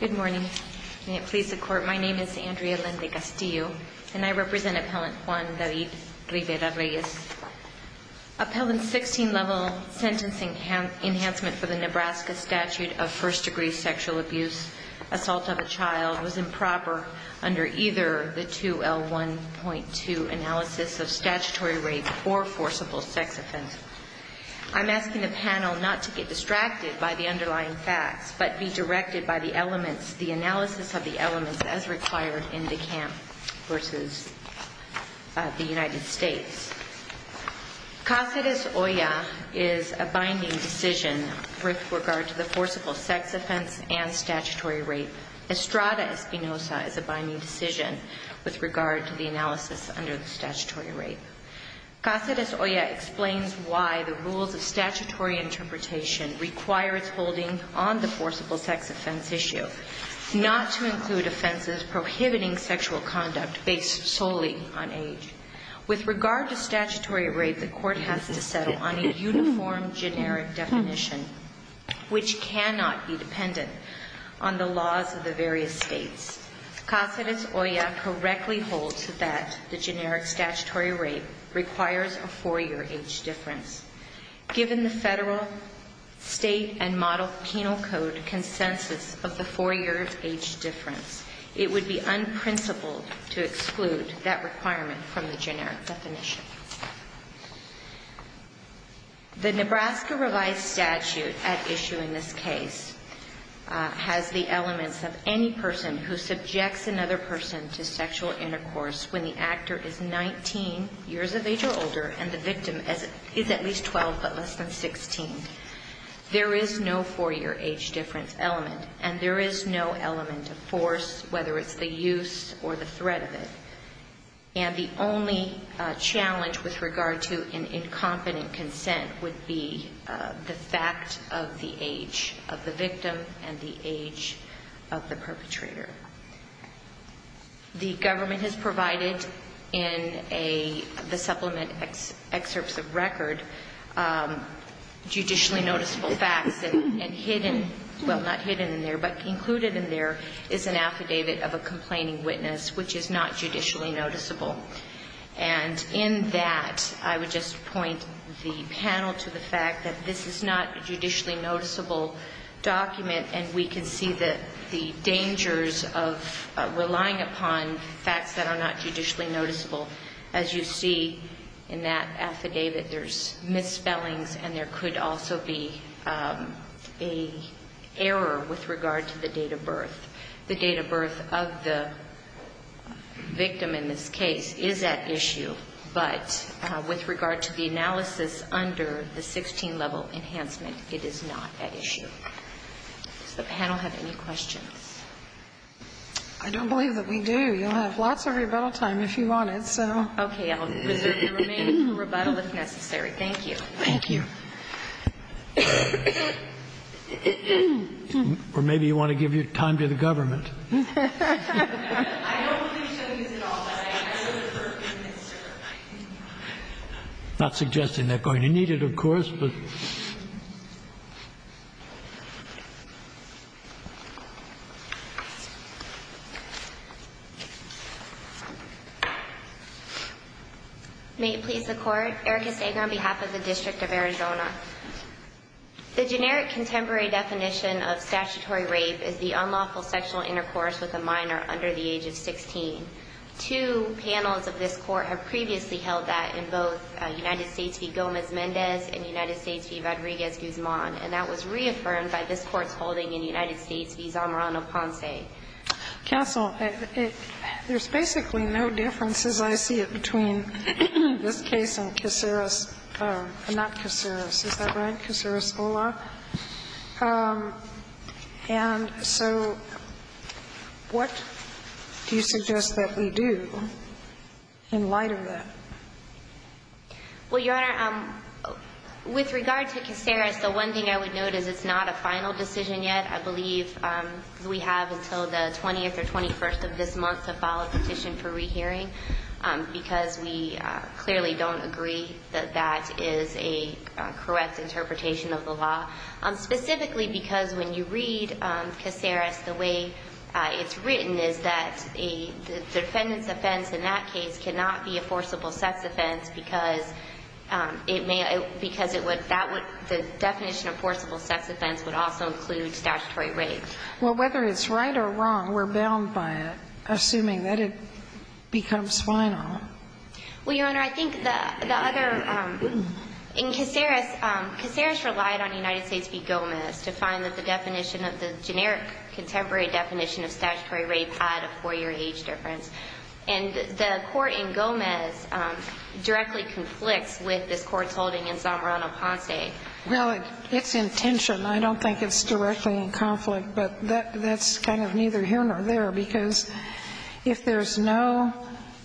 Good morning. May it please the Court, my name is Andrea Linda Castillo and I represent Appellant Juan David Rivera-Reyes. Appellant's 16-level sentencing enhancement for the Nebraska statute of first-degree sexual abuse, assault of a child, was improper under either the 2L1.2 analysis of statutory rape or forcible sex offense. I'm asking the panel not to get distracted by the underlying facts but be directed by the elements, the analysis of the elements as required in the camp versus the United States. Cáceres-Olla is a binding decision with regard to the forcible sex offense and statutory rape. Estrada Espinoza is a binding decision with regard to the analysis under the statutory rape. Cáceres-Olla explains why the rules of statutory interpretation require its holding on the forcible sex offense issue, not to include offenses prohibiting sexual conduct based solely on age. With regard to statutory rape, the Court has to settle on a uniform generic definition which cannot be dependent on the laws of the various states. Cáceres-Olla correctly holds that the generic statutory rape requires a four-year age difference. Given the federal, state, and model penal code consensus of the four-year age difference, it would be unprincipled to exclude that requirement from the generic definition. The Nebraska revised statute at issue in this case has the elements of any person who subjects another person to sexual intercourse when the actor is 19 years of age or older and the victim is at least 12 but less than 16. There is no four-year age difference element, and there is no element of force, whether it's the use or the threat of it. And the only challenge with regard to an incompetent consent would be the fact of the age of the victim and the age of the perpetrator. The government has provided in the supplement excerpts of record, judicially noticeable facts, and hidden, well, not hidden in there, but included in there is an affidavit of a complaining witness which is not judicially noticeable. And in that, I would just point the panel to the fact that this is not a judicially noticeable document, and we can see the dangers of relying upon facts that are not judicially noticeable. As you see in that affidavit, there's misspellings, and there could also be an error with regard to the date of birth. The date of birth of the victim in this case is at issue, but with regard to the analysis under the 16-level enhancement, it is not at issue. Does the panel have any questions? I don't believe that we do. You'll have lots of rebuttal time if you want it, so. Okay. I'll reserve the remaining rebuttal if necessary. Thank you. Thank you. Or maybe you want to give your time to the government. I don't believe so, Your Honor. I'm not suggesting they're going to need it, of course, but... May it please the Court. Erica Sager on behalf of the District of Arizona. The generic contemporary definition of statutory rape is the unlawful sexual intercourse with a minor under the age of 16. Two panels of this Court have previously held that in both United States v. Gomez-Mendez and United States v. Rodriguez-Guzman, and that was reaffirmed by this Court's holding in United States v. Zamorano-Ponce. Counsel, there's basically no difference, as I see it, between this case and Kaciris or not Kaciris. Is that right? Kaciris-Ola? And so, I don't think there's any difference What do you suggest that we do in light of that? Well, Your Honor, with regard to Kaciris, the one thing I would note is it's not a final decision yet. I believe we have until the 20th or 21st of this month to file a petition for rehearing because we clearly don't agree that that is a correct interpretation of the law, specifically because when you read Kaciris, the way it's written is that the defendant's offense in that case cannot be a forcible sex offense because the definition of forcible sex offense would also include statutory rape. Well, whether it's right or wrong, we're bound by it, assuming that it becomes final. Well, Your Honor, I think the other, in Kaciris, Kaciris relied on United States v. Gomez to find that the definition of the generic contemporary definition of statutory rape had a four-year age difference, and the court in Gomez directly conflicts with this court's holding in Zamorano-Ponce. Well, it's in tension. I don't think it's directly in conflict, but that's kind of neither here nor there, because if there's no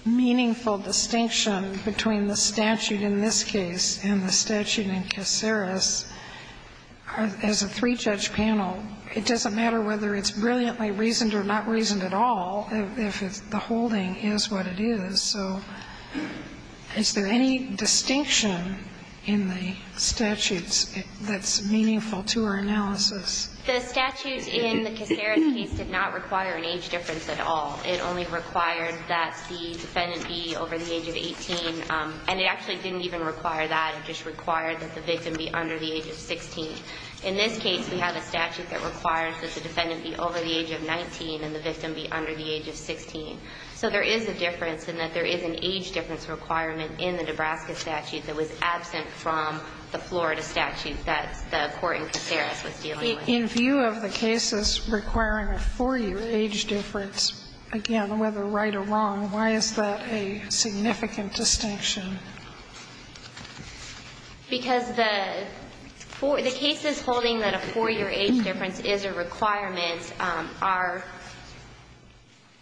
meaningful distinction between the statute in this case and the statute in Kaciris, as a three-judge panel, it doesn't matter whether it's brilliantly reasoned or not reasoned at all if the holding is what it is. So is there any distinction in the statutes that's meaningful to our analysis? The statute in the Kaciris case did not require an age difference at all. It only required that the defendant be over the age of 18, and it actually didn't even require that. It just required that the victim be under the age of 16. In this case, we have a statute that requires that the defendant be over the age of 19 and the victim be under the age of 16. So there is a difference in that there is an age difference requirement in the Nebraska statute that was absent from the Florida statute that the court in Kaciris was dealing with. In view of the cases requiring a four-year age difference, again, whether right or wrong, why is that a significant distinction? Because the cases holding that a four-year age difference is a requirement are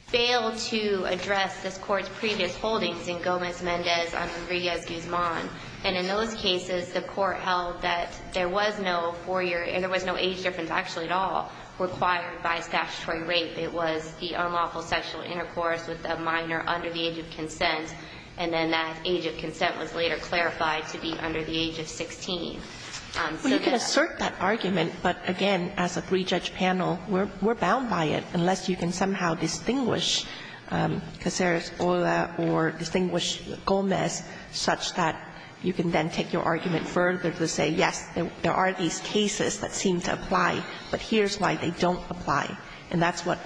failed to address this Court's previous holdings in Gomez-Mendez and Rodriguez-Guzman. And in those cases, the court held that there was no four-year and there was no age difference actually at all required by statutory rape. It was the unlawful sexual intercourse with a minor under the age of consent, and then that age of consent was later clarified to be under the age of 16. So that's why. Well, you can assert that argument, but again, as a three-judge panel, we're bound by it, unless you can somehow distinguish Kaciris-Ola or distinguish Gomez such that you can then take your argument further to say, yes, there are these cases that seem to apply, but here's why they don't apply, and that's what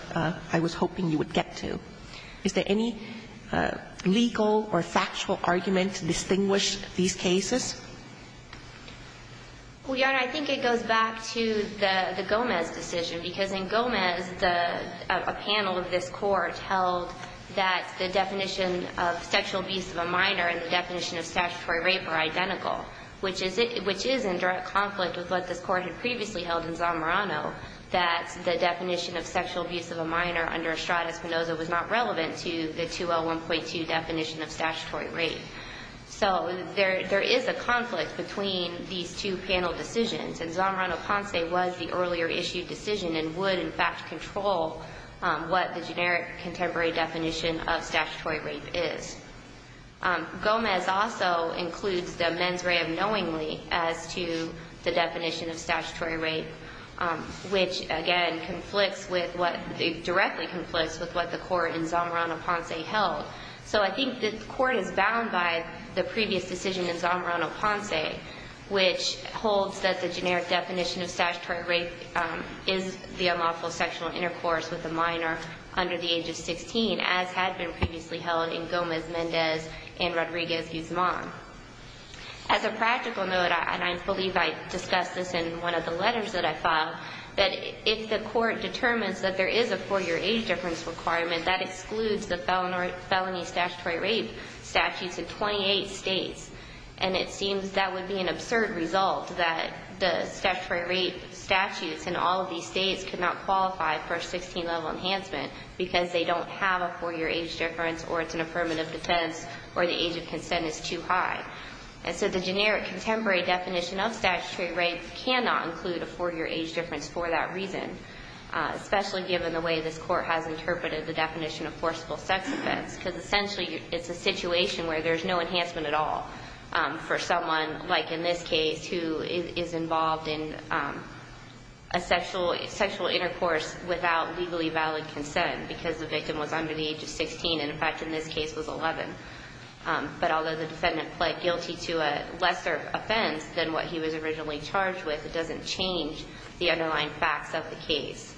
I was hoping you would get to. Is there any legal or factual argument to distinguish these cases? Well, Your Honor, I think it goes back to the Gomez decision, because in Gomez, a panel of this Court held that the definition of sexual abuse of a minor and the definition of statutory rape are identical, which is in direct conflict with what this Court had previously held in Zamorano, that the definition of sexual abuse of a minor under Estrada-Spinoza was not relevant to the 201.2 definition of statutory rape. So there is a conflict between these two panel decisions, and Zamorano-Ponce was the earlier-issued decision and would, in fact, control what the generic contemporary definition of statutory rape is. Gomez also includes the mens rea of knowingly as to the definition of statutory rape, which, again, conflicts with what the – directly conflicts with what the Court in Zamorano-Ponce held. So I think the Court is bound by the previous decision in Zamorano-Ponce, which holds that the generic definition of statutory rape is the unlawful sexual intercourse with a minor under the age of 16, as had been previously held in Gomez and Rodriguez-Guzman. As a practical note, and I believe I discussed this in one of the letters that I filed, that if the Court determines that there is a four-year age difference requirement, that excludes the felony statutory rape statutes in 28 states. And it seems that would be an absurd result that the statutory rape statutes in all of these states could not qualify for a 16-level enhancement because they don't have a four-year age difference or it's an affirmative defense or the age of consent is too high. And so the generic contemporary definition of statutory rape cannot include a four-year age difference for that reason, especially given the way this Court has interpreted the definition of forcible sex offense, because essentially it's a situation where there's no enhancement at all for someone, like in this case, who is involved in a sexual – sexual intercourse without legally valid consent because the victim was under the age of 16 and, in fact, in this case, was 11. But although the defendant pled guilty to a lesser offense than what he was originally charged with, it doesn't change the underlying facts of the case.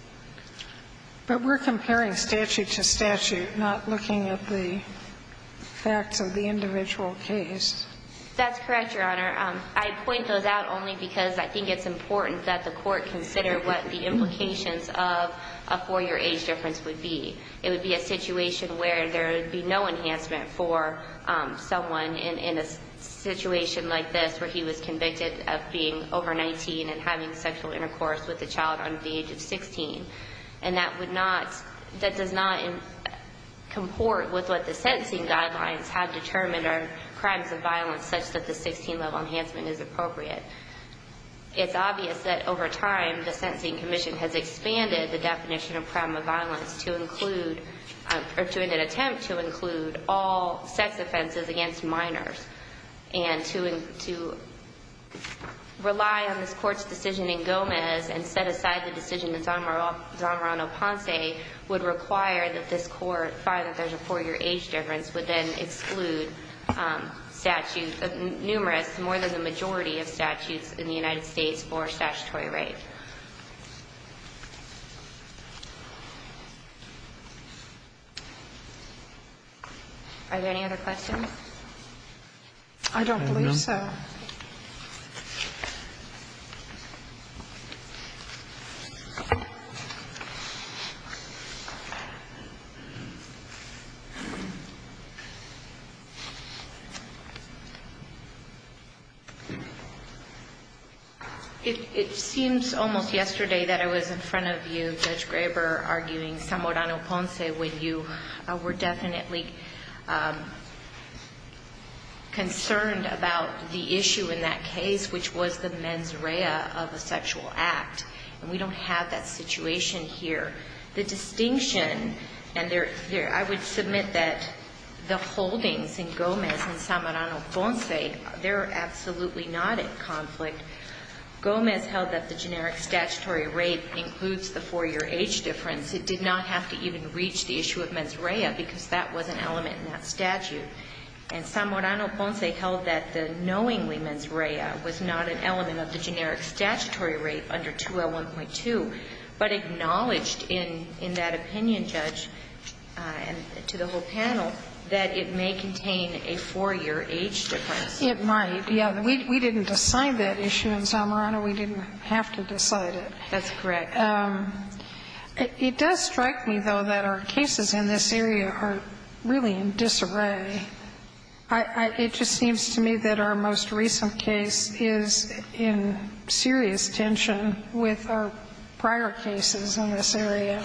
But we're comparing statute to statute, not looking at the facts of the individual case. That's correct, Your Honor. I point those out only because I think it's important that the Court consider what the implications of a four-year age difference would be. It would be a situation where there would be no enhancement for someone in a situation like this where he was convicted of being over 19 and having sexual intercourse with a child under the age of 16. And that would not – that does not comport with what the sentencing guidelines have determined are crimes of violence such that the 16-level enhancement is appropriate. It's obvious that over time, the Sentencing Commission has expanded the definition of crime of violence to include – or in an attempt to include all sex offenses against minors. And to – to rely on this Court's decision in Gomez and set aside the decision that Zamorano Ponce would require that this Court find that there's a four-year age difference would then exclude statute – numerous, more than the majority of statutes in the United States for statutory rape. Are there any other questions? I don't believe so. Thank you. It seems almost yesterday that I was in front of you, Judge Graber, arguing Zamorano Ponce when you were definitely concerned about the issue in that case, which was the mens rea of a sexual act. And we don't have that situation here. The distinction – and there – I would submit that the holdings in Gomez and Zamorano Ponce, they're absolutely not in conflict. Gomez held that the generic statutory rape includes the four-year age difference. It did not have to even reach the issue of mens rea because that was an element in that statute. And Zamorano Ponce held that the knowingly mens rea was not an element of the generic statutory rape under 2L1.2, but acknowledged in – in that opinion, Judge, to the whole panel, that it may contain a four-year age difference. It might, yes. We didn't decide that issue in Zamorano. We didn't have to decide it. That's correct. It does strike me, though, that our cases in this area are really in disarray. I – it just seems to me that our most recent case is in serious tension with our prior cases in this area.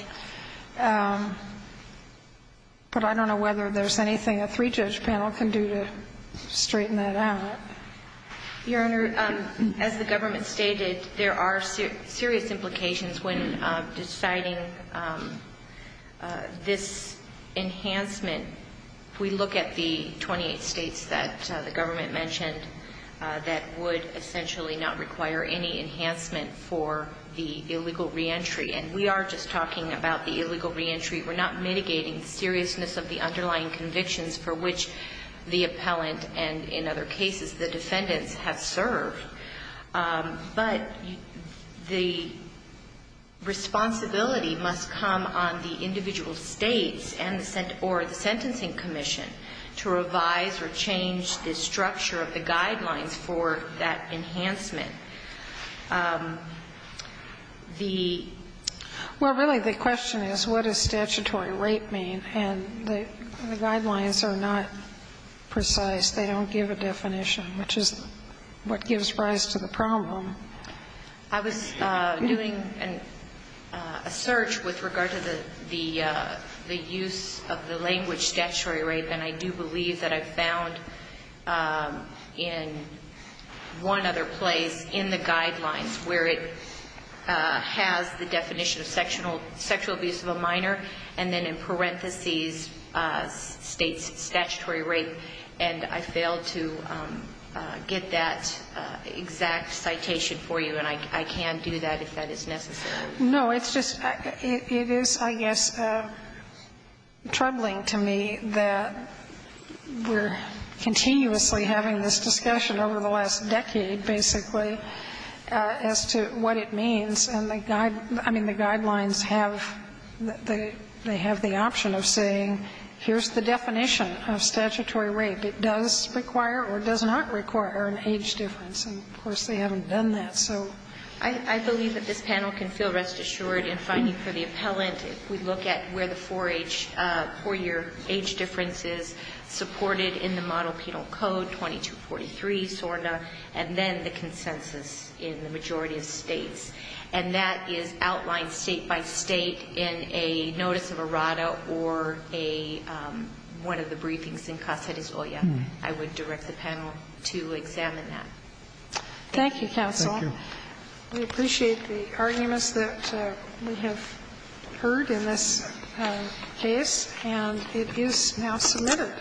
But I don't know whether there's anything a three-judge panel can do to straighten that out. Your Honor, as the government stated, there are serious implications when deciding this enhancement. We look at the 28 states that the government mentioned that would essentially not require any enhancement for the illegal reentry. And we are just talking about the illegal reentry. We're not mitigating the seriousness of the underlying convictions for which the defendants have served. But the responsibility must come on the individual states and the – or the sentencing commission to revise or change the structure of the guidelines for that enhancement. The – Well, really, the question is, what does statutory rape mean? And the guidelines are not precise. They don't give a definition, which is what gives rise to the problem. I was doing a search with regard to the use of the language statutory rape, and I do believe that I found in one other place in the guidelines where it has the definition of sexual abuse of a minor, and then in parentheses states statutory rape. And I failed to get that exact citation for you, and I can do that if that is necessary. No, it's just – it is, I guess, troubling to me that we're continuously having this discussion over the last decade, basically, as to what it means. And the – I mean, the guidelines have the – they have the option of saying, here's the definition of statutory rape. It does require or does not require an age difference. And, of course, they haven't done that. So – I believe that this panel can feel rest assured in finding for the appellant if we look at where the 4-year age difference is supported in the model penal code 2243, SORNA, and then the consensus in the majority of states. And that is outlined state-by-state in a notice of errata or a – one of the briefings in Casa des Ollas. I would direct the panel to examine that. Thank you, counsel. Thank you. We appreciate the arguments that we have heard in this case, and it is now submitted.